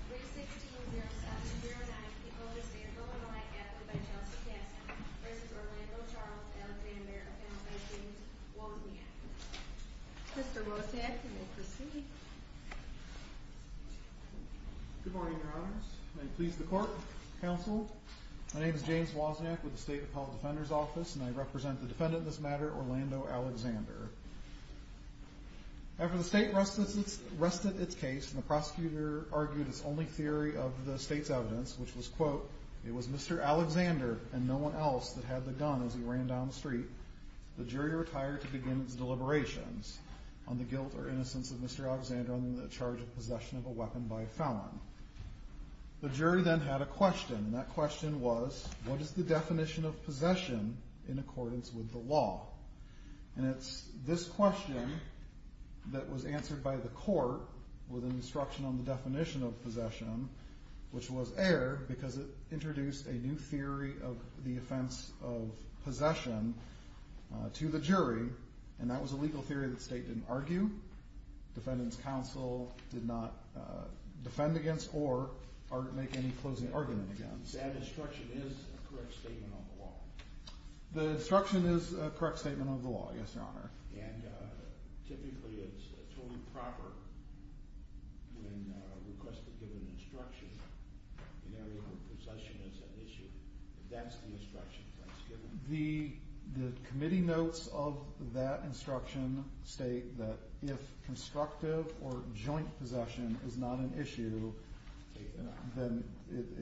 316-0709, the oldest state of Illinois, acted by Chelsea Cassidy, v. Orlando Charles Alexander, and by James Wozniak. Mr. Wozniak, you may proceed. Good morning, Your Honors. May it please the Court, Counsel. My name is James Wozniak with the State Appellate Defender's Office, and I represent the defendant in this matter, Orlando Alexander. After the state rested its case and the prosecutor argued its only theory of the state's evidence, which was, quote, it was Mr. Alexander and no one else that had the gun as he ran down the street, the jury retired to begin its deliberations on the guilt or innocence of Mr. Alexander under the charge of possession of a weapon by a felon. The jury then had a question, and that question was, what is the definition of possession in accordance with the law? And it's this question that was answered by the court with an instruction on the definition of possession, which was air, because it introduced a new theory of the offense of possession to the jury, and that was a legal theory that the state didn't argue, defendant's counsel did not defend against or make any closing argument against. That instruction is a correct statement of the law? The instruction is a correct statement of the law, yes, Your Honor. And typically, it's totally proper when requested to give an instruction in an area where possession is an issue. If that's the instruction, that's given. The committee notes of that instruction state that if constructive or joint possession is not an issue, then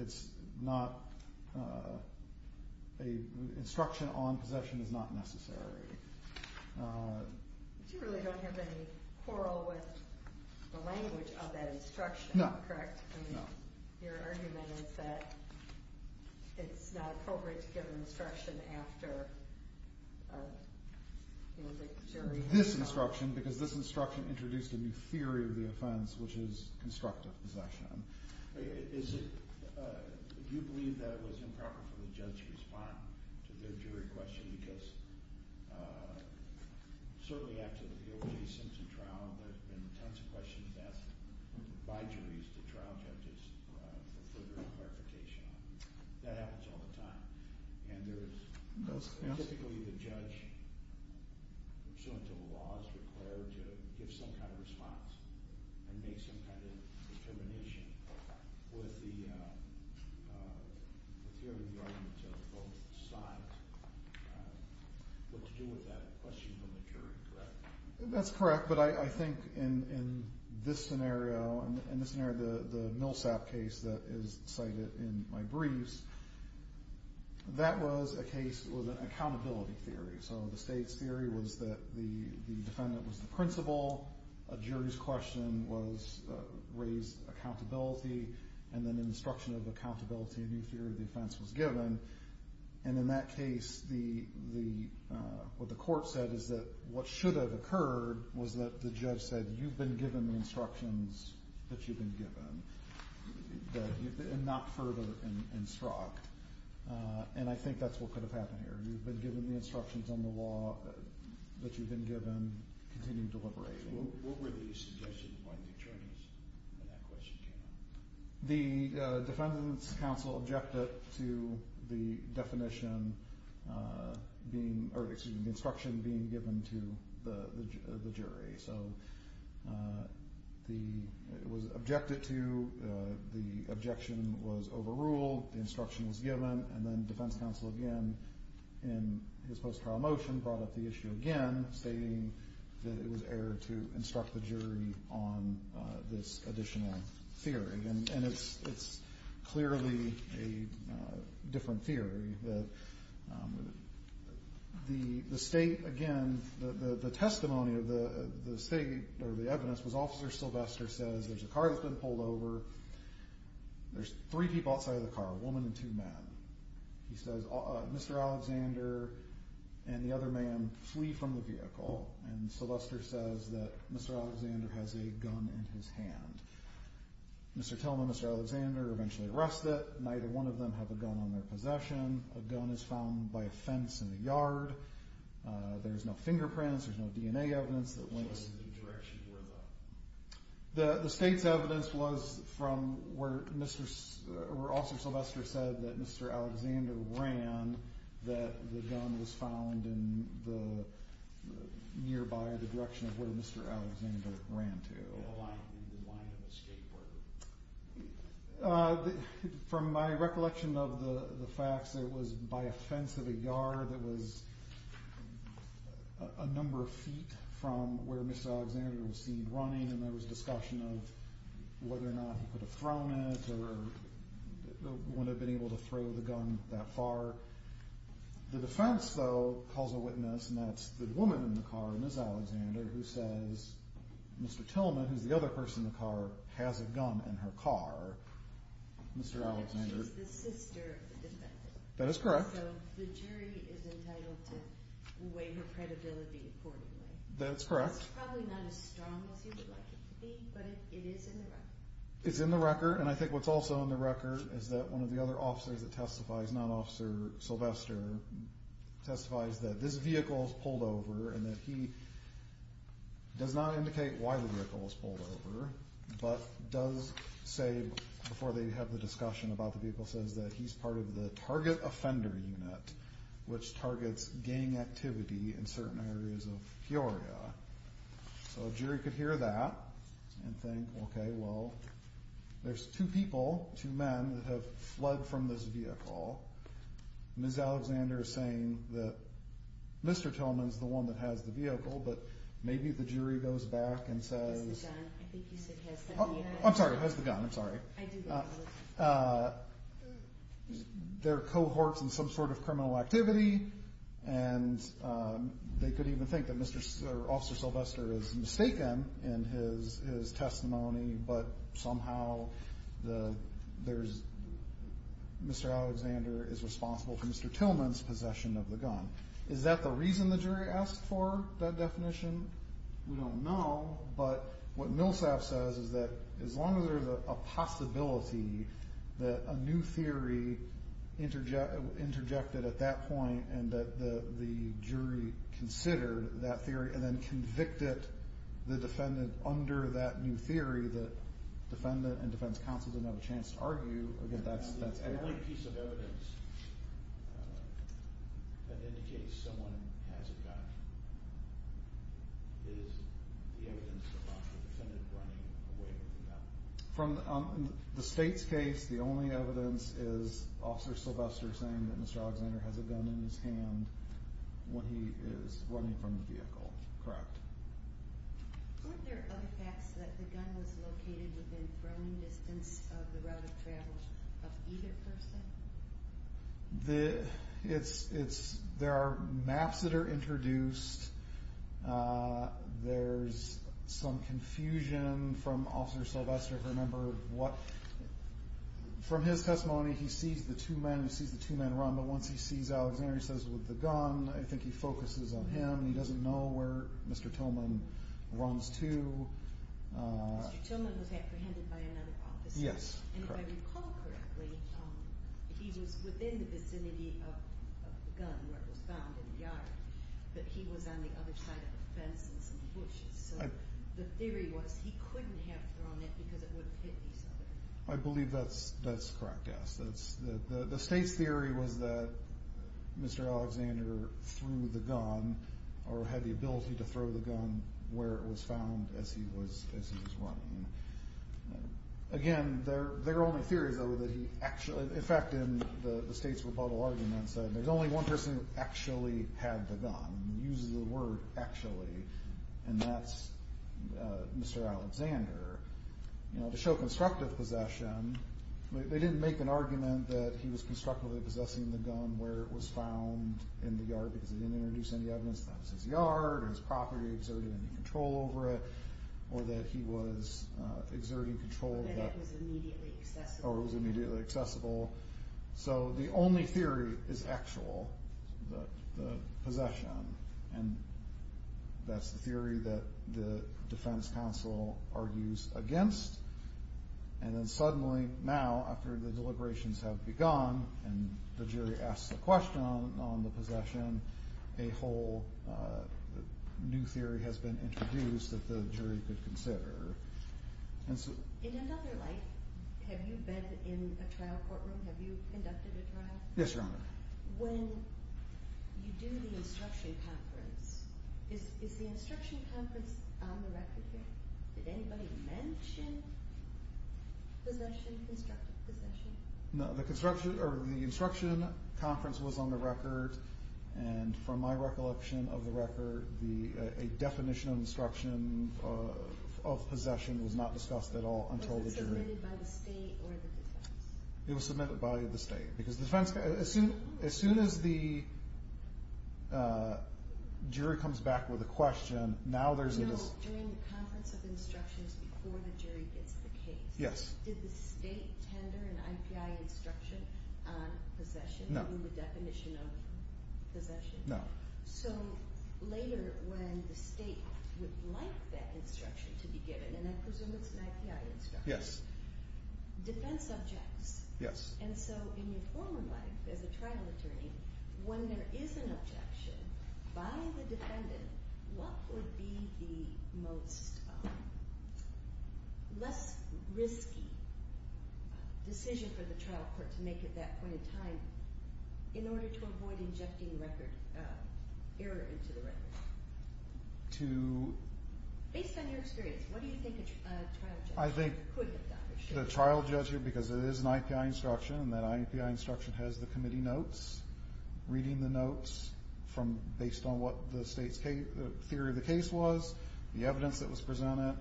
it's not, a instruction on possession is not necessary. But you really don't have any quarrel with the language of that instruction, correct? No, no. Your argument is that it's not appropriate to give an instruction after the jury has gone. This instruction, because this instruction introduced a new theory of the offense, which is constructive possession. Is it, do you believe that it was improper for the judge to respond to their jury question because certainly after the O.J. Simpson trial, there have been tons of questions asked by juries to trial judges for further clarification on it. That happens all the time. And there is, typically the judge, pursuant to the law, is required to give some kind of response and make some kind of determination with the theory of the argument of both sides. What to do with that question from the jury, correct? That's correct, but I think in this scenario, in this scenario, the Millsap case that is cited in my briefs, that was a case that was an accountability theory. So the state's theory was that the defendant was the principal, a jury's question was raised accountability, and then an instruction of accountability, a new theory of the offense was given. And in that case, what the court said is that what should have occurred was that the judge said, you've been given the instructions that you've been given, and not further instruct. And I think that's what could have happened here. You've been given the instructions on the law that you've been given, continue deliberating. What were the suggestions by the attorneys when that question came up? The defendant's counsel objected to the definition being, or excuse me, the instruction being given to the jury. So it was objected to, the objection was overruled, the instruction was given, and then defense counsel again, in his post-trial motion, brought up the issue again, stating that it was error to instruct the jury on this additional theory. And it's clearly a different theory, that the state, again, the testimony of the state, or the evidence was Officer Sylvester says, there's a car that's been pulled over, there's three people outside of the car, a woman and two men. He says, Mr. Alexander and the other man flee from the vehicle, and Sylvester says that Mr. Alexander has a gun in his hand. Mr. Tillman and Mr. Alexander eventually arrest it, neither one of them have a gun on their possession. A gun is found by a fence in the yard. There's no fingerprints, there's no DNA evidence that links to the direction where the... The state's evidence was from where Officer Sylvester said that Mr. Alexander ran, that the gun was found in the nearby, the direction of where Mr. Alexander ran to. In the line of a skateboard. From my recollection of the facts, it was by a fence of a yard that was a number of feet from where Mr. Alexander was seen running, and there was discussion of whether or not he could have thrown it, or would have been able to throw the gun that far. The defense, though, calls a witness, and that's the woman in the car, Ms. Alexander, who says Mr. Tillman, who's the other person in the car, has a gun in her car, Mr. Alexander. She's the sister of the defendant. That is correct. So the jury is entitled to weigh her credibility accordingly. That's correct. It's probably not as strong as you would like it to be, but it is in the record. It's in the record, and I think what's also in the record is that one of the other officers that testifies, not Officer Sylvester, testifies that this vehicle was pulled over, and that he does not indicate why the vehicle was pulled over, but does say, before they have the discussion about the vehicle, says that he's part of the Target Offender Unit, which targets gang activity in certain areas of Peoria. So a jury could hear that and think, okay, well, there's two people, two men, that have fled from this vehicle. Ms. Alexander is saying that Mr. Tillman's the one that has the vehicle, but maybe the jury goes back and says... It's the gun. I think you said has the gun. I'm sorry, has the gun. I'm sorry. I do believe it. There are cohorts in some sort of criminal activity, and they could even think that Mr. Officer Sylvester is mistaken in his testimony, but somehow Mr. Alexander is responsible for Mr. Tillman's possession of the gun. Is that the reason the jury asked for that definition? We don't know, but what Millsap says is that as long as there's a possibility that a new theory interjected at that point, and that the jury considered that theory, and then convicted the defendant under that new theory, that defendant and defense counsel didn't have a chance to argue, again, that's... The only piece of evidence that indicates someone has a gun is the evidence about the defendant running away with the gun. From the state's case, the only evidence is Officer Sylvester saying that Mr. Alexander has a gun in his hand when he is running from the vehicle. Correct. Weren't there other facts that the gun was located within throwing distance of the route of travel of either person? There are maps that are introduced. There's some confusion from Officer Sylvester, if you remember, what... From his testimony, he sees the two men, he sees the two men run, but once he sees Alexander, he says, with the gun, I think he focuses on him, he doesn't know where Mr. Tillman runs to... Mr. Tillman was apprehended by another officer. Yes, correct. And if I recall correctly, he was within the vicinity of the gun where it was found in the yard, but he was on the other side of the fence in some bushes, so the theory was he couldn't have thrown it because it would have hit these other... I believe that's correct, yes. The state's theory was that Mr. Alexander threw the gun or had the ability to throw the gun where it was found as he was running. Again, their only theory, though, that he actually... In fact, in the state's rebuttal arguments, there's only one person who actually had the gun, who uses the word actually, and that's Mr. Alexander. You know, to show constructive possession, where it was found in the yard because he didn't introduce any evidence that it was his yard or his property, exerted any control over it, or that he was exerting control... Or that it was immediately accessible. Or it was immediately accessible. So the only theory is actual, the possession, and that's the theory that the defense counsel argues against. And then suddenly, now, after the deliberations have begun, and the jury asks the question on the possession, a whole new theory has been introduced that the jury could consider. In another life, have you been in a trial courtroom? Have you conducted a trial? Yes, Your Honor. When you do the instruction conference, is the instruction conference on the record here? Did anybody mention possession, constructive possession? No, the instruction conference was on the record, and from my recollection of the record, a definition of instruction of possession was not discussed at all until the jury... Was it submitted by the state or the defense? It was submitted by the state. As soon as the jury comes back with a question, now there's a... During the conference of instructions, before the jury gets the case, did the state tender an IPI instruction on possession in the definition of possession? No. So later, when the state would like that instruction to be given, and I presume it's an IPI instruction, defense objects. Yes. And so in your former life as a trial attorney, when there is an objection by the defendant, what would be the most less risky decision for the trial court to make at that point in time in order to avoid injecting error into the record? To... Based on your experience, what do you think a trial judge could have done? I think the trial judge, because it is an IPI instruction, and that IPI instruction has the committee notes, reading the notes from... Based on what the state's theory of the case was, the evidence that was presented,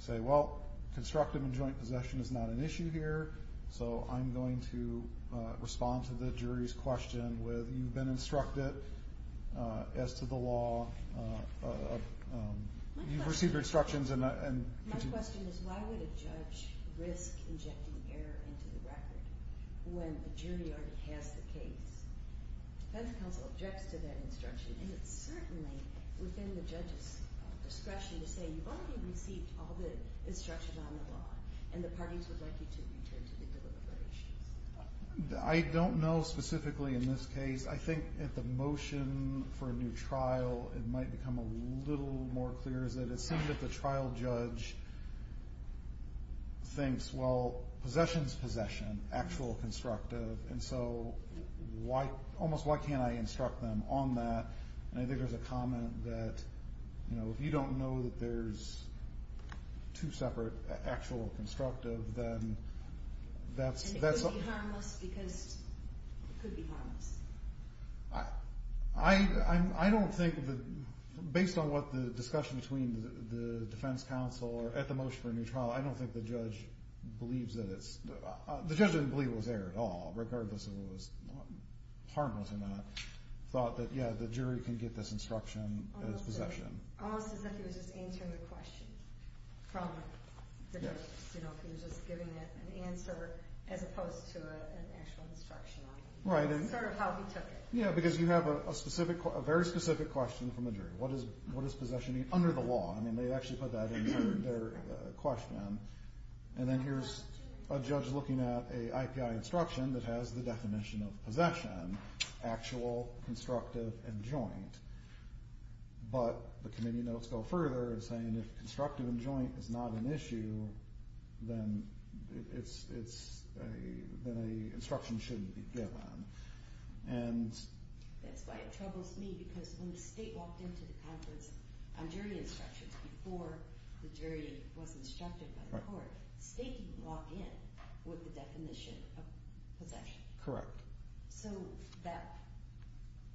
say, well, constructive and joint possession is not an issue here, so I'm going to respond to the jury's question with, you've been instructed as to the law. You've received your instructions and... My question is, why would a judge risk injecting error into the record when the jury already has the case? The defense counsel objects to that instruction, and it's certainly within the judge's discretion to say, you've already received all the instructions on the law, and the parties would like you to return to the deliberations. I don't know specifically in this case. I think at the motion for a new trial, it might become a little more clear, is that it seems that the trial judge thinks, well, possession's possession, actual or constructive, and so almost why can't I instruct them on that? And I think there's a comment that, you know, if you don't know that there's two separate, actual or constructive, then that's... And it could be harmless, because it could be harmless. I don't think... Based on what the discussion between the defense counsel, or at the motion for a new trial, I don't think the judge believes that it's... The judge didn't believe it was there at all, regardless if it was harmless or not. Thought that, yeah, the jury can get this instruction as possession. Almost as if he was just answering the question from the judge. You know, if he was just giving an answer, as opposed to an actual instruction on it. Sort of how he took it. Yeah, because you have a very specific question from the jury. What does possession mean under the law? I mean, they actually put that in their question. And then here's a judge looking at a IPI instruction that has the definition of possession. Actual, constructive, and joint. But the committee notes go further, saying if constructive and joint is not an issue, then a instruction shouldn't be given. And... That's why it troubles me, because when the state walked into the conference on jury instructions, before the jury was instructed by the court, the state didn't walk in with the definition of possession. Correct. So that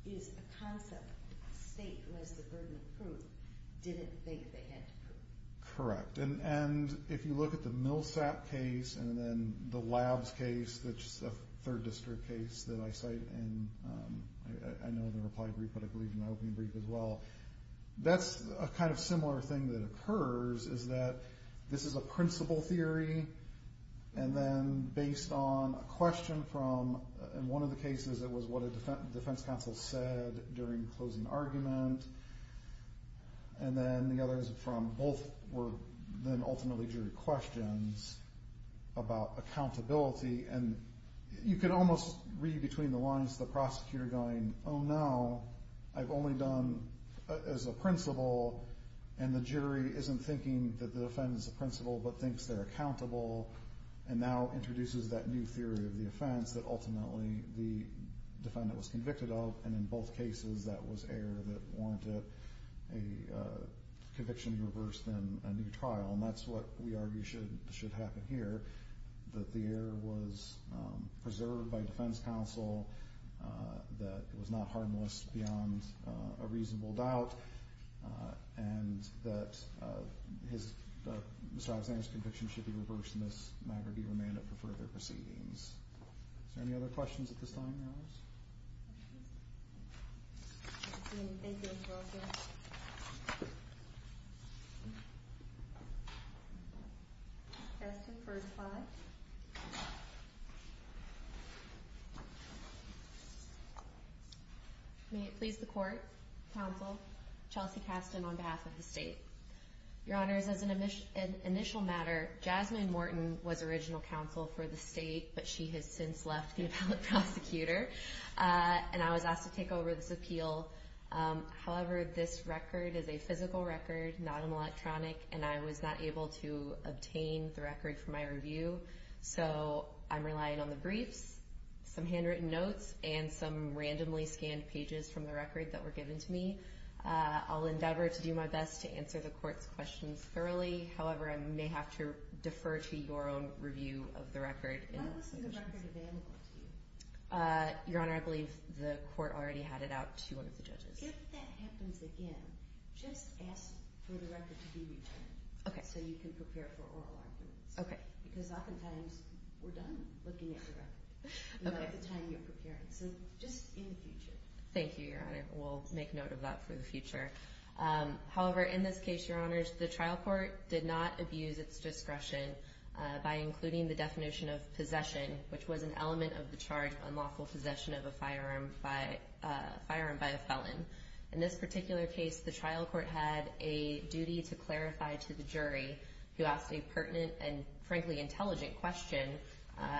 is a concept the state, who has the burden of proof, didn't think they had to prove. Correct. And if you look at the Millsap case, and then the Labs case, which is a third district case that I cite in... in my opening brief as well, that's a kind of similar thing that occurs, is that this is a principle theory, and then based on a question from... In one of the cases, it was what a defense counsel said during closing argument. And then the others from both were then ultimately jury questions about accountability. And you could almost read between the lines of the prosecutor going, oh, no, I've only done as a principle, and the jury isn't thinking that the defendant's a principle, but thinks they're accountable, and now introduces that new theory of the offense that ultimately the defendant was convicted of. And in both cases, that was error that warranted a conviction reversed in a new trial. And that's what we argue should happen here, that the error was preserved by defense counsel, that it was not harmless beyond a reasonable doubt, and that Mr. Alexander's conviction should be reversed in this matter, be remanded for further proceedings. Is there any other questions at this time, Alice? Thank you. That's the first slide. May it please the court, counsel, Chelsea Kasten on behalf of the state. Your honors, as an initial matter, Jasmine Morton was original counsel for the state, but she has since left the appellate prosecutor, and I was asked to take over this appeal. However, this record is a physical record, not an electronic, and I was not able to obtain the record for my review, so I'm relying on the briefs, some handwritten notes, and some randomly scanned pages from the record that were given to me. I'll endeavor to do my best to answer the court's questions thoroughly. However, I may have to defer to your own review of the record. Why wasn't the record available to you? Your honor, I believe the court already had it out to one of the judges. If that happens again, just ask for the record to be returned. So you can prepare for oral arguments. Because oftentimes, we're done looking at the record at the time you're preparing, so just in the future. Thank you, your honor. We'll make note of that for the future. However, in this case, your honors, the trial court did not abuse its discretion by including the definition of possession, which was an element of the charge of unlawful possession of a firearm by a felon. In this particular case, the trial court had a duty to clarify to the jury who asked a pertinent and, frankly, intelligent question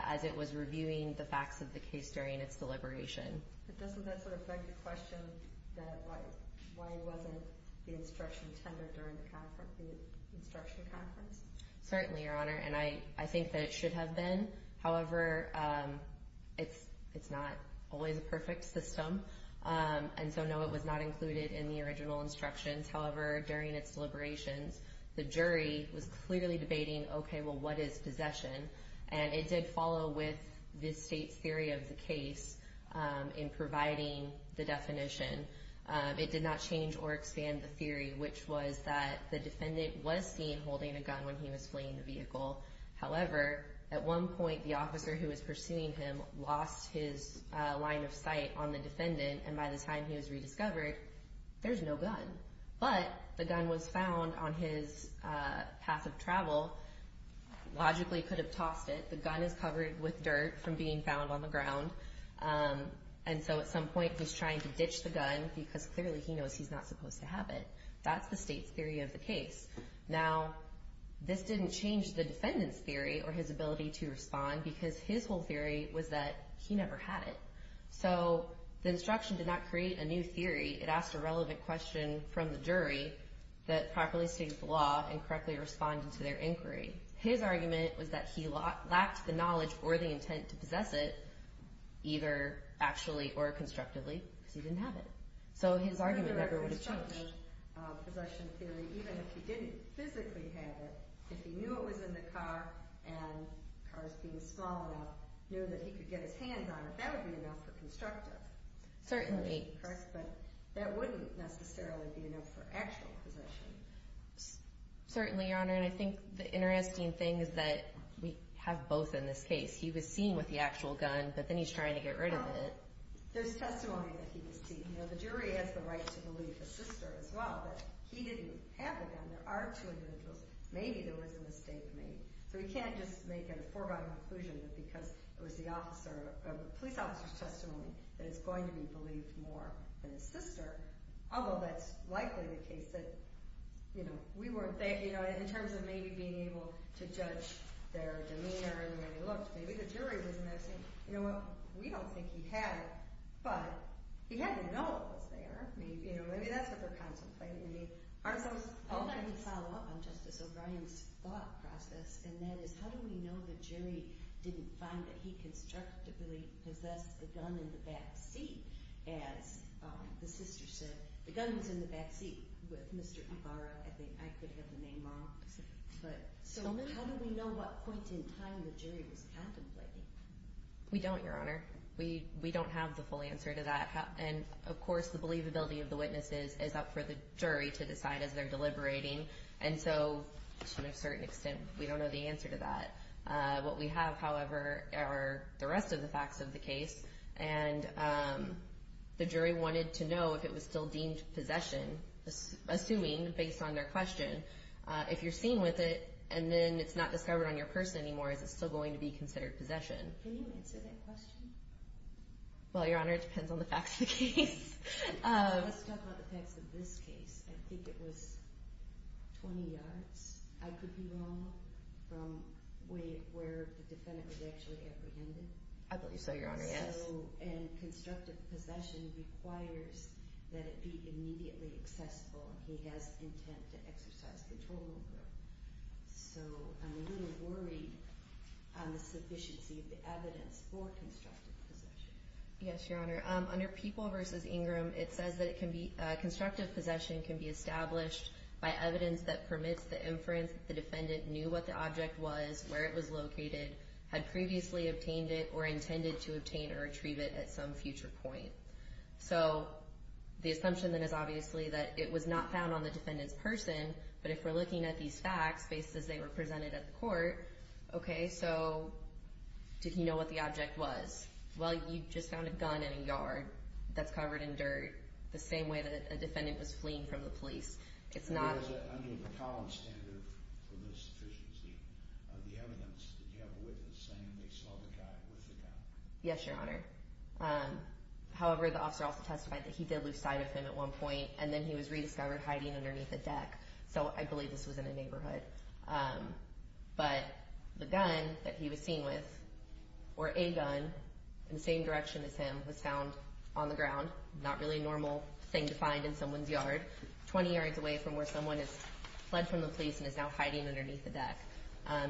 as it was reviewing the facts of the case during its deliberation. But doesn't that sort of beg the question that why wasn't the instruction tendered during the instruction conference? Certainly, your honor. And I think that it should have been. However, it's not always a perfect system. And so, no, it was not included in the original instructions. However, during its deliberations, the jury was clearly debating, okay, well, what is possession? And it did follow with this state's theory of the case in providing the definition. It did not change or expand the theory, which was that the defendant was seen holding a gun when he was fleeing the vehicle. However, at one point, the officer who was pursuing him lost his line of sight on the defendant and by the time he was rediscovered, there's no gun. But the gun was found on his path of travel. Logically, he could have tossed it. The gun is covered with dirt from being found on the ground. And so, at some point, he's trying to ditch the gun because clearly he knows he's not supposed to have it. That's the state's theory of the case. Now, this didn't change the defendant's theory or his ability to respond because his whole theory was that he never had it. So the instruction did not create a new theory. It asked a relevant question from the jury that properly states the law and correctly responded to their inquiry. His argument was that he lacked the knowledge or the intent to possess it either actually or constructively because he didn't have it. So his argument never would have changed. Even if he didn't physically have it, if he knew it was in the car and the car's being small enough, knew that he could get his hands on it, that would be enough for constructive. But that wouldn't necessarily be enough for actual possession. Certainly, Your Honor. And I think the interesting thing is that we have both in this case. He was seen with the actual gun, but then he's trying to get rid of it. There's testimony that he was seen. The jury has the right to believe the sister as well. But he didn't have the gun. There are two individuals. Maybe there was a mistake made. So we can't just make a foregone conclusion because it was the police officer's testimony that it's going to be believed more than his sister. Although that's likely the case. In terms of maybe being able to judge their demeanor and the way they looked, maybe the jury was missing. We don't think he had it, but he had to know it was there. Maybe that's what we're contemplating. I would like to follow up on Justice O'Brien's thought process. And that is, how do we know the jury didn't find that he constructively possessed the gun in the back seat? As the sister said, the gun was in the back seat with Mr. Ibarra. I think I could have the name wrong. So how do we know what point in time the jury was contemplating? We don't, Your Honor. We don't have the full answer to that. And, of course, the believability of the witnesses is up for the jury to decide as they're deliberating. And so, to a certain extent, we don't know the answer to that. What we have, however, are the rest of the facts of the case. And the jury wanted to know if it was still deemed possession, assuming, based on their question, if you're seen with it and then it's not discovered on your person anymore, is it still going to be considered possession? Can you answer that question? Well, Your Honor, it depends on the facts of the case. Let's talk about the facts of this case. I think it was 20 yards, I could be wrong, from where the defendant was actually apprehended. I believe so, Your Honor, yes. And constructive possession requires that it be immediately accessible. He has intent to exercise control over it. So, I'm a little worried on the sufficiency of the evidence for constructive possession. Yes, Your Honor. Under People v. Ingram, it says that constructive possession can be established by evidence that permits the inference that the defendant knew what the object was, where it was located, had previously obtained it, or intended to obtain or retrieve it at some future point. So, the assumption then is obviously that it was not found on the defendant's person, but if we're looking at these facts, based as they were presented at the court, okay, so, did he know what the object was? Well, you just found a gun in a yard that's covered in dirt, the same way that a defendant was fleeing from the police. Under the Collins standard for the sufficiency of the evidence, did you have a witness saying they saw the guy with the gun? Yes, Your Honor. However, the officer also testified that he did lose sight of him at one point, and then he was rediscovered hiding underneath a deck. So, I believe this was in a neighborhood. But, the gun that he was seen with, or a gun, in the same direction as him, was found on the ground, not really a normal thing to find in someone's yard, 20 yards away from where someone has fled from the police and is now hiding underneath a deck.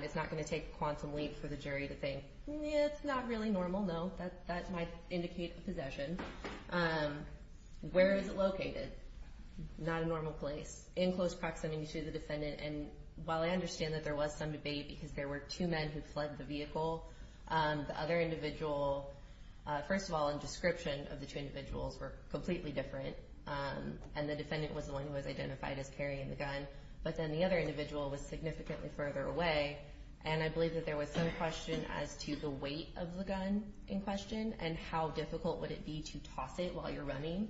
It's not going to take a quantum leap for the jury to think, it's not really normal, no, that might indicate a possession. Where is it located? Not a normal place. In close proximity to the defendant, and while I understand that there was some debate because there were two men who fled the vehicle, the other individual, first of all, the description of the two individuals were completely different, and the defendant was the one who was identified as carrying the gun, but then the other individual was significantly further away, and I believe that there was some question as to the weight of the gun in question, and how difficult would it be to toss it while you're running.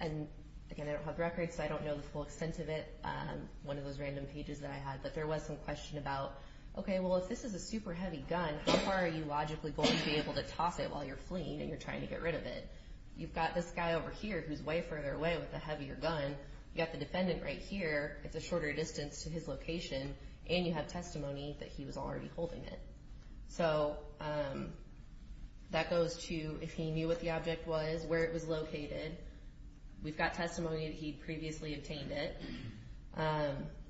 And, again, I don't have records, so I don't know the full extent of it, one of those random pages that I had, but there was some question about, okay, well, if this is a super heavy gun, how far are you logically going to be able to toss it while you're fleeing and you're trying to get rid of it? You've got this guy over here who's way further away with a heavier gun, you've got the defendant right here, it's a shorter distance to his location, and you have testimony that he was already holding it. So, that goes to, if he knew what the object was, where it was located, we've got testimony that he previously obtained it,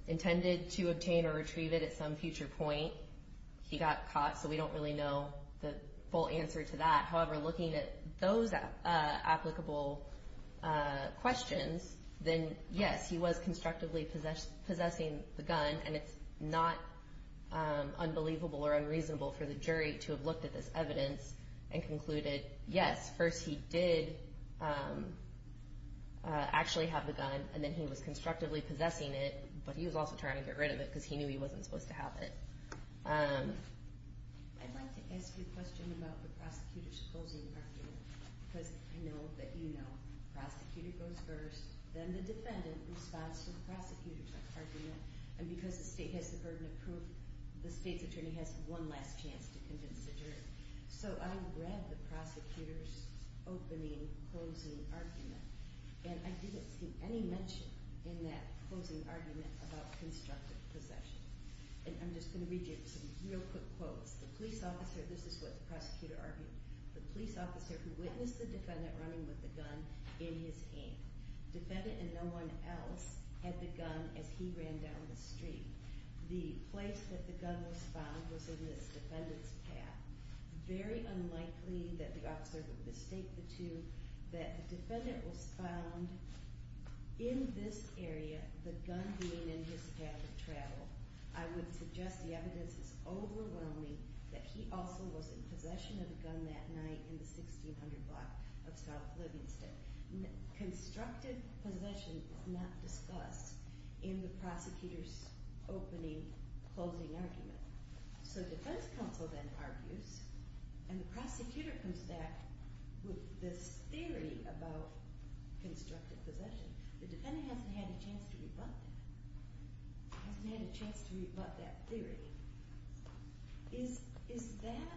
intended to obtain or retrieve it at some future point, he got caught, so we don't really know the full answer to that. However, looking at those applicable questions, then, yes, he was constructively possessing the gun, and it's not unbelievable or unreasonable for the jury to have looked at this evidence and concluded, yes, first he did actually have the gun, and then he was constructively possessing it, but he was also trying to get rid of it because he knew he wasn't supposed to have it. I'd like to ask you a question about the prosecutor's closing argument, because I know that you know the prosecutor goes first, then the defendant responds to the prosecutor's argument, and because the state has the burden of proof, the state's attorney has one last chance to convince the jury. So, I read the prosecutor's opening closing argument, and I didn't see any mention in that closing argument about constructive possession. And I'm just going to read you some real quick quotes. The police officer, this is what the prosecutor argued, the police officer who witnessed the defendant running with the gun in his hand. Defendant and no one else had the gun as he ran down the street. The place that the gun was found was in this defendant's path. Very unlikely that the officer would mistake the two, that the defendant was found in this area, the gun being in his path of travel. I would suggest the evidence is overwhelming that he also was in possession of the gun that night in the 1600 block of South Livingston. Constructive possession was not discussed in the prosecutor's opening closing argument. So defense counsel then argues, and the prosecutor comes back with this theory about constructive possession. The defendant hasn't had a chance to rebut that. Hasn't had a chance to rebut that theory. Is that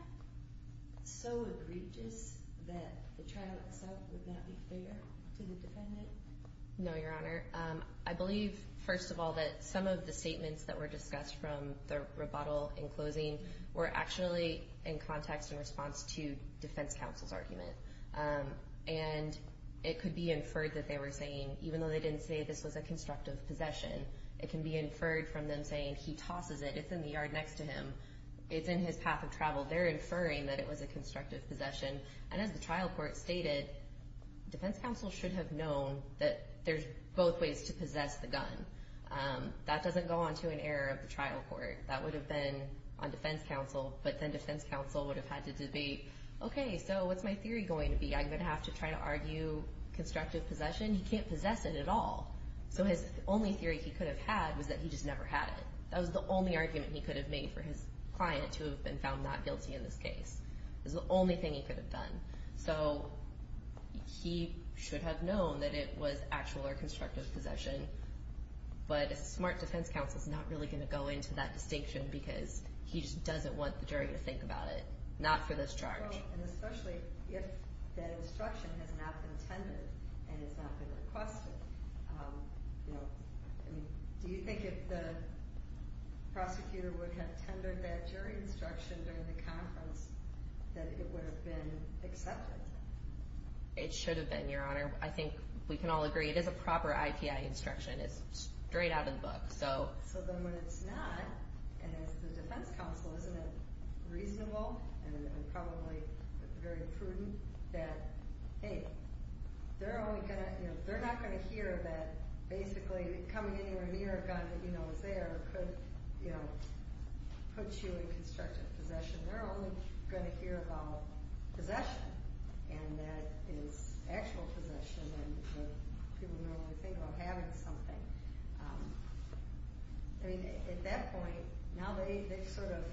so egregious that the trial itself would not be fair to the defendant? No, Your Honor. I believe, first of all, that some of the statements that were discussed from the rebuttal in closing were actually in context in response to defense counsel's argument. And it could be inferred that they were saying even though they didn't say this was a constructive possession, it can be inferred from them saying he tosses it. It's in the yard next to him. It's in his path of travel. They're inferring that it was a constructive possession. And as the trial court stated, defense counsel should have known that there's both ways to possess the gun. That doesn't go onto an error of the trial court. That would have been on defense counsel, but then defense counsel would have had to debate, okay, so what's my theory going to be? I'm going to have to try to argue constructive possession? He can't possess it at all. So his only theory he could have had was that he just never had it. That was the only argument he could have made for his client to have been found not guilty in this case. It was the only thing he could have done. So he should have known that it was actual or constructive possession. But a smart defense counsel is not really going to go into that distinction because he just doesn't want the jury to think about it. Not for this charge. And especially if that instruction has not been tendered and it's not been requested. Do you think if the prosecutor would have tendered that jury instruction during the conference that it would have been accepted? It should have been, Your Honor. I think we can all agree it is a proper IPI instruction. It's straight out of the book. So then when it's not, and as the defense counsel, isn't it reasonable and probably very prudent that they're not going to hear that basically coming anywhere near a gun that you know is there puts you in constructive possession. They're only going to hear about possession and that is actual possession and what people normally think about having something. At that point, now they've sort of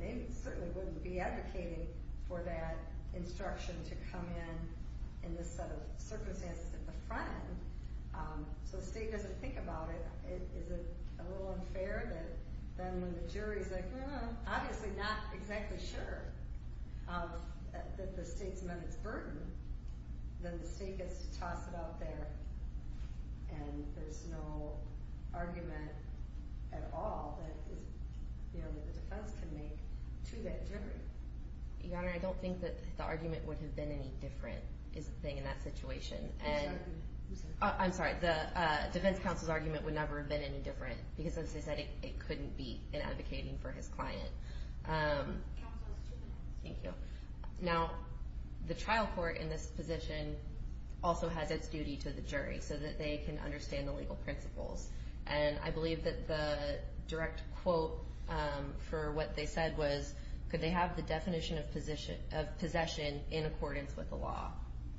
they certainly wouldn't be advocating for that instruction to come in in this set of circumstances in the front end. So the state doesn't think about it. Is it a little unfair that then when the jury is like, obviously not exactly sure that the state's meant its burden then the state gets to toss it out there and there's no argument at all that the defense can make to that jury. Your Honor, I don't think that the argument would have been any different is the thing in that situation. I'm sorry, the defense counsel's argument would never have been any different because as I said it couldn't be in advocating for his client. Thank you. Now, the trial court in this position also has its duty to the jury so that they can understand the legal principles. And I believe that the direct quote for what they said was could they have the definition of possession in accordance with the law.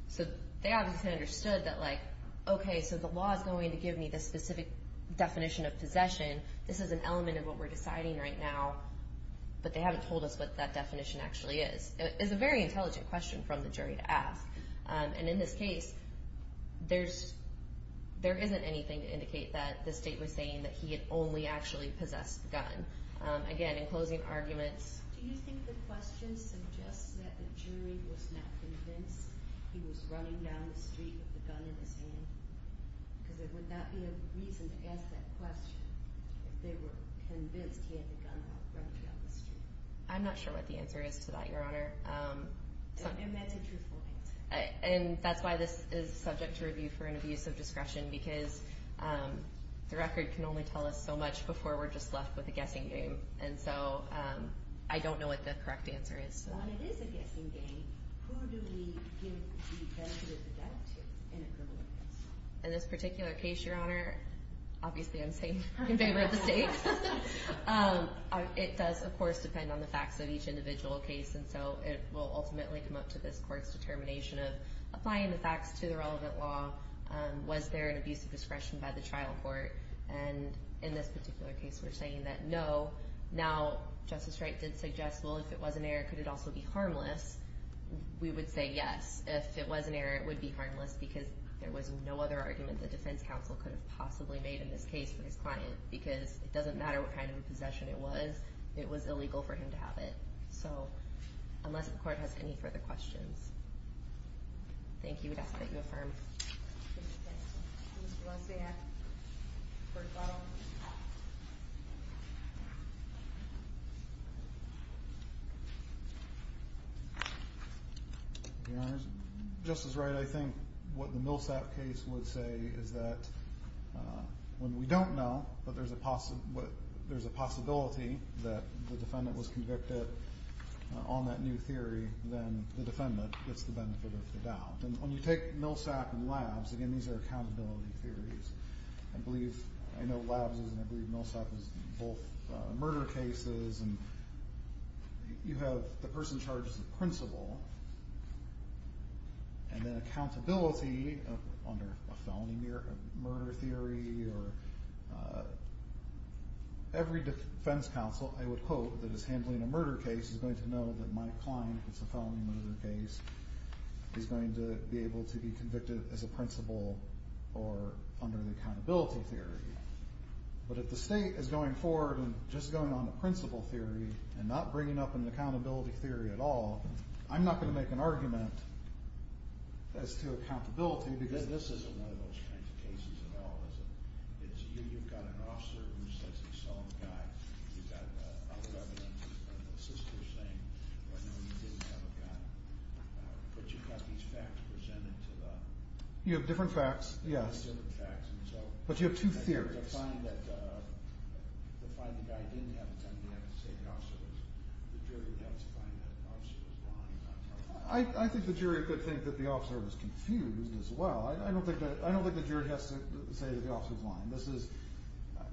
So they obviously understood that okay, so the law is going to give me the specific definition of possession. This is an element of what we're deciding right now. But they haven't told us what that definition actually is. It's a very intelligent question from the jury to ask. And in this case there isn't anything to indicate that the state was saying that he had only actually possessed the gun. Again, in closing arguments Do you think the question suggests that the jury was not convinced he was running down the street with the gun in his hand? Because there would not be a reason to ask that question if they were convinced he had the gun out running down the street. I'm not sure what the answer is to that, Your Honor. And that's a truthful answer. And that's why this is subject to review for an abuse of discretion because the record can only tell us so much before we're just left with a guessing game. And so I don't know what the correct answer is. When it is a guessing game, who do we give the benefit of the doubt to in a criminal case? In this particular case, Your Honor, obviously I'm saying in favor of the state. It does, of course, depend on the facts of each individual case. And so it will ultimately come up to this court's determination of applying the facts to the relevant law. Was there an abuse of discretion by the trial court? And in this particular case, we're saying that no. Now, Justice Wright did suggest, well, if it was an error, could it also be harmless? We would say yes. If it was an error, it would be harmless because there was no other argument the defense counsel could have possibly made in this case for his client because it doesn't matter what kind of possession it was. It was illegal for him to have it. So, unless the court has any further questions. Thank you. I'd ask that you affirm. Justice Wright, I think what the Millsap case would say is that when we don't know, but there's a possibility that the defendant was convicted on that new theory, then the defendant gets the benefit of the doubt. And when you take Millsap and Labs, again, these are accountability theories. I believe, I know Labs is and I believe Millsap is both murder cases and you have the person charged as the principal and then accountability under a felony murder theory or every defense counsel I would quote that is handling a murder case is going to know that my client that's a felony murder case is going to be able to be convicted as a principal or under the accountability theory. But if the state is going forward and just going on a principal theory and not bringing up an accountability theory at all, I'm not going to make an argument as to accountability because this isn't one of those kinds of cases at all you've got an officer who says he saw the guy you've got other evidence of the sister saying oh no, he didn't have a gun but you've got these facts presented to the you have different facts, yes, but you have two theories to find the guy didn't have a gun you have to say the officer was I think the jury could think that the officer was confused as well I don't think the jury has to say that the officer was lying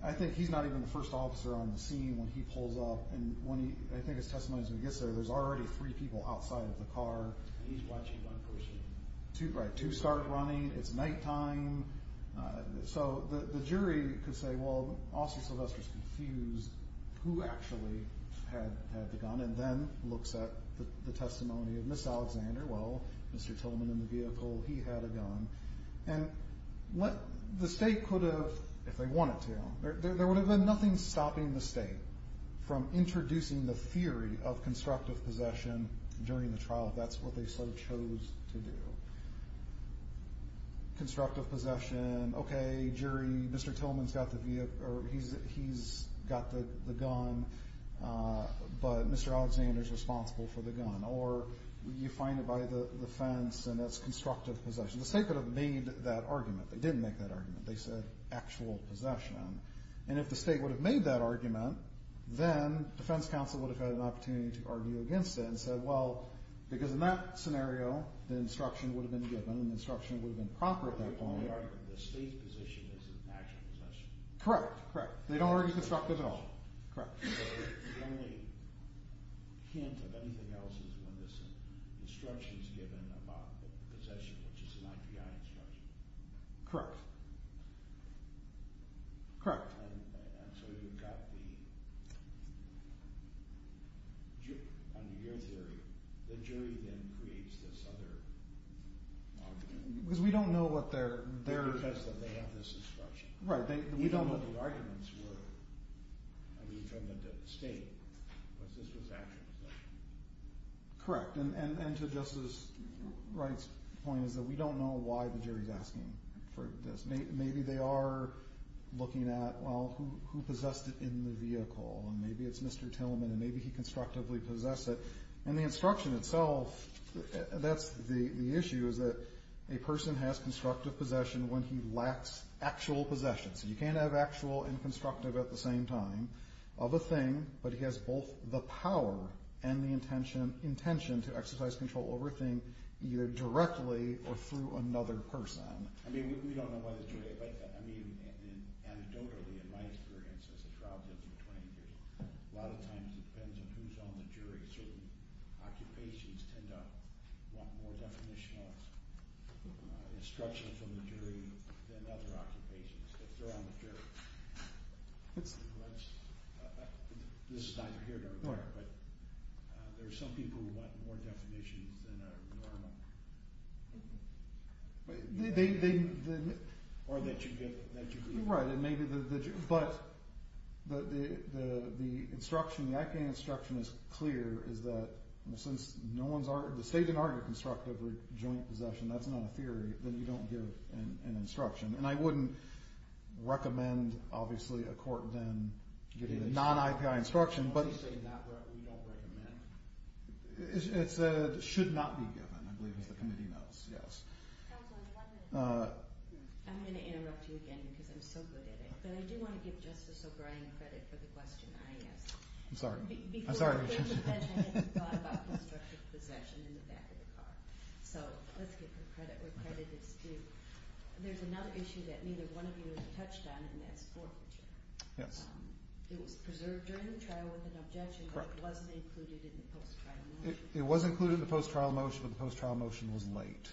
I think he's not even the first officer on the scene when he pulls up and I think his testimony is when he gets there there's already three people outside of the car and he's watching one person, two start running it's night time, so the jury could say well Officer Sylvester is confused who actually had the gun and then looks at the testimony of Ms. Alexander well Mr. Tillman in the vehicle, he had a gun and the state could have if they wanted to, there would have been nothing stopping the state from introducing the theory of constructive possession during the trial if that's what they sort of chose to do constructive possession, okay jury Mr. Tillman's got the gun but Mr. Alexander's responsible for the gun or you find it by the fence and that's constructive possession, the state could have made that argument, they didn't make that argument, they said actual possession and if the state would have made that argument then defense counsel would have had an opportunity to argue against it and said well because in that scenario the instruction would have been given and the instruction would have been actual possession, correct, correct, they don't argue constructive at all correct, the only hint of anything else is when this instruction is given about possession which is an IPI instruction correct correct, and so you've got the under your theory, the jury then creates this other argument, because we don't know what their we don't know what the arguments were from the state correct, and to Justice Wright's point is that we don't know why the jury is asking for this, maybe they are looking at well who possessed it in the vehicle and maybe it's Mr. Tillman and maybe he constructively possessed it and the instruction itself that's the issue is that a person has constructive possession when he lacks actual possession, so you can't have actual and constructive at the same time of a thing, but he has both the power and the intention to exercise control over a thing either directly or through another person, I mean we don't know why the jury I mean anecdotally in my experience as a trial judge for 20 years, a lot of times it depends on who's on the jury, certain occupations tend to want more definitional instruction from the jury than other occupations if they're on the jury this is neither here nor there but there are some people who want more definitions than are normal they right, but the instruction the IP instruction is clear, is that since the state didn't argue constructive or joint possession that's not a theory, then you don't give an instruction and I wouldn't recommend obviously a court then giving a non-IPI instruction but it should not be given I believe as the committee knows yes I'm going to interrupt you again because I'm so good at it, but I do want to give Justice O'Brien credit for the question I asked I'm sorry so let's give her credit there's another issue that neither one of you have touched on and that's forfeiture it was preserved during the trial with an objection but it wasn't included in the post-trial motion it was included in the post-trial motion, but the post-trial motion was late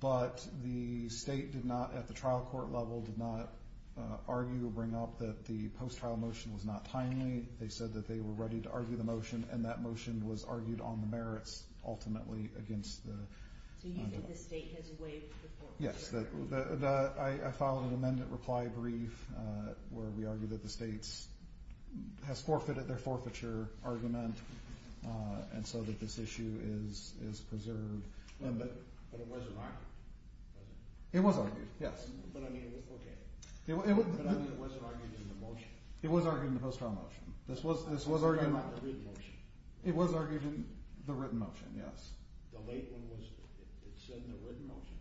but the state did not, at the trial court level, did not argue or bring up that the post-trial motion was not timely they said that they were ready to argue the motion and that motion was argued on the merits ultimately against the so you think the state has waived the forfeiture yes, I filed an amendment reply brief where we argue that the state has forfeited their forfeiture argument and so that this issue is preserved but it wasn't argued it was argued, yes but it wasn't argued in the motion it was argued in the post-trial motion it was argued in the written motion, yes the late one was said in the written motion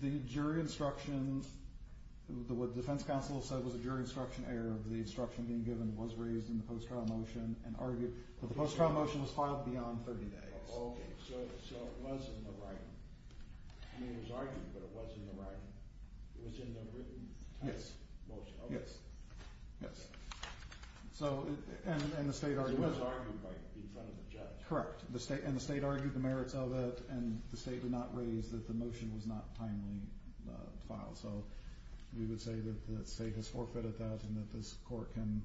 the jury instruction what the defense counsel said was a jury instruction error the instruction being given was raised in the post-trial motion and argued, but the post-trial motion was filed beyond 30 days so it was in the writing it was argued, but it was in the writing it was in the written type motion yes, yes it was argued in front of the judge correct, and the state argued the merits of it and the state did not raise that the motion was not timely filed, so we would say that the state has forfeited that and that this court can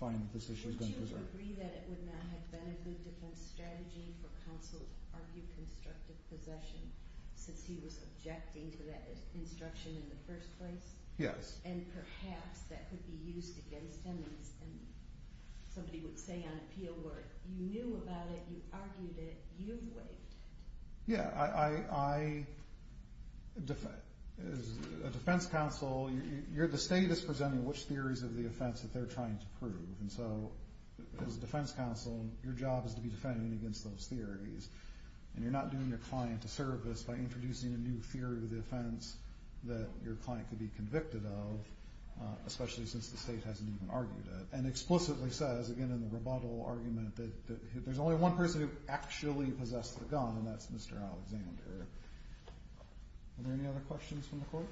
find that this issue has been preserved would you agree that it would not have been a good defense strategy for counsel to argue constructive possession since he was objecting to that instruction in the first place yes, and perhaps that could be used against him somebody would say on appeal work you knew about it, you argued it, you've waived it yeah, I as a defense counsel the state is presenting which theories of the offense that they're trying to prove and so as a defense counsel your job is to be defending against those theories and you're not doing your client a service by introducing a new theory of the offense that your client could be convicted of especially since the state hasn't even argued it and explicitly says, again in the rebuttal argument that there's only one person who actually possessed the gun and that's Mr. Alexander are there any other questions from the court?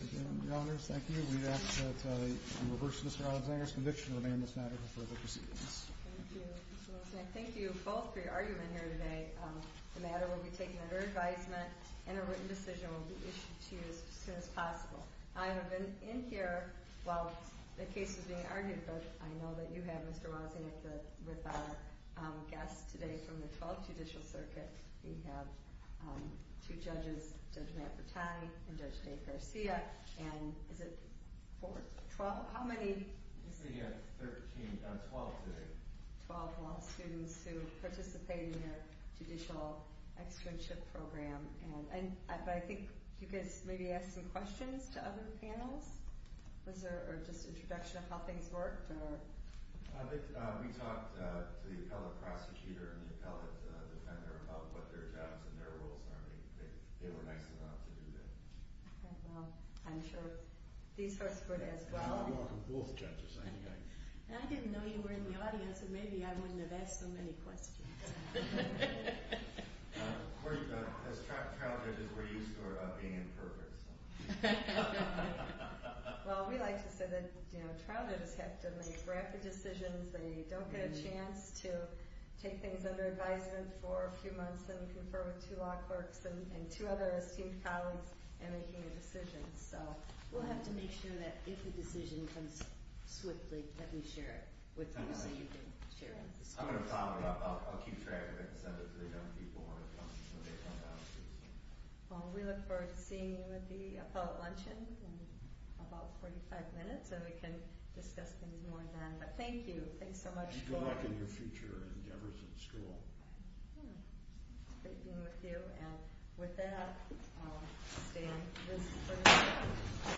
again, your honors, thank you we ask that you reverse Mr. Alexander's conviction and remain in this matter for further proceedings thank you, Mr. Wilson, and thank you both for your argument here today the matter will be taken under advisement and a written decision will be issued to you as soon as possible I have been in here while the case was being argued but I know that you have Mr. Wozniak with our guest today from the 12th Judicial Circuit we have two judges Judge Matt Bertani and Judge Dave Garcia and is it four, twelve, how many I think we have 13, no 12 today 12 law students who participate in the judicial externship program I think you guys maybe asked some questions to other panels or just an introduction of how things worked we talked to the appellate prosecutor and the appellate defender about what their jobs and their roles are they were nice enough to do that I'm sure these folks were as well I didn't know you were in the audience so maybe I wouldn't have asked so many questions Of course, as child judges we're used to being imperfect Well, we like to say that child judges have to make rapid decisions they don't get a chance to take things under advisement for a few months and confer with two law clerks and two other esteemed colleagues in making a decision We'll have to make sure that if a decision comes swiftly that we share it with you I'll keep track of it We look forward to seeing you at the appellate luncheon in about 45 minutes Thank you Good luck in your future endeavors in school It's great being with you With that, I'll stand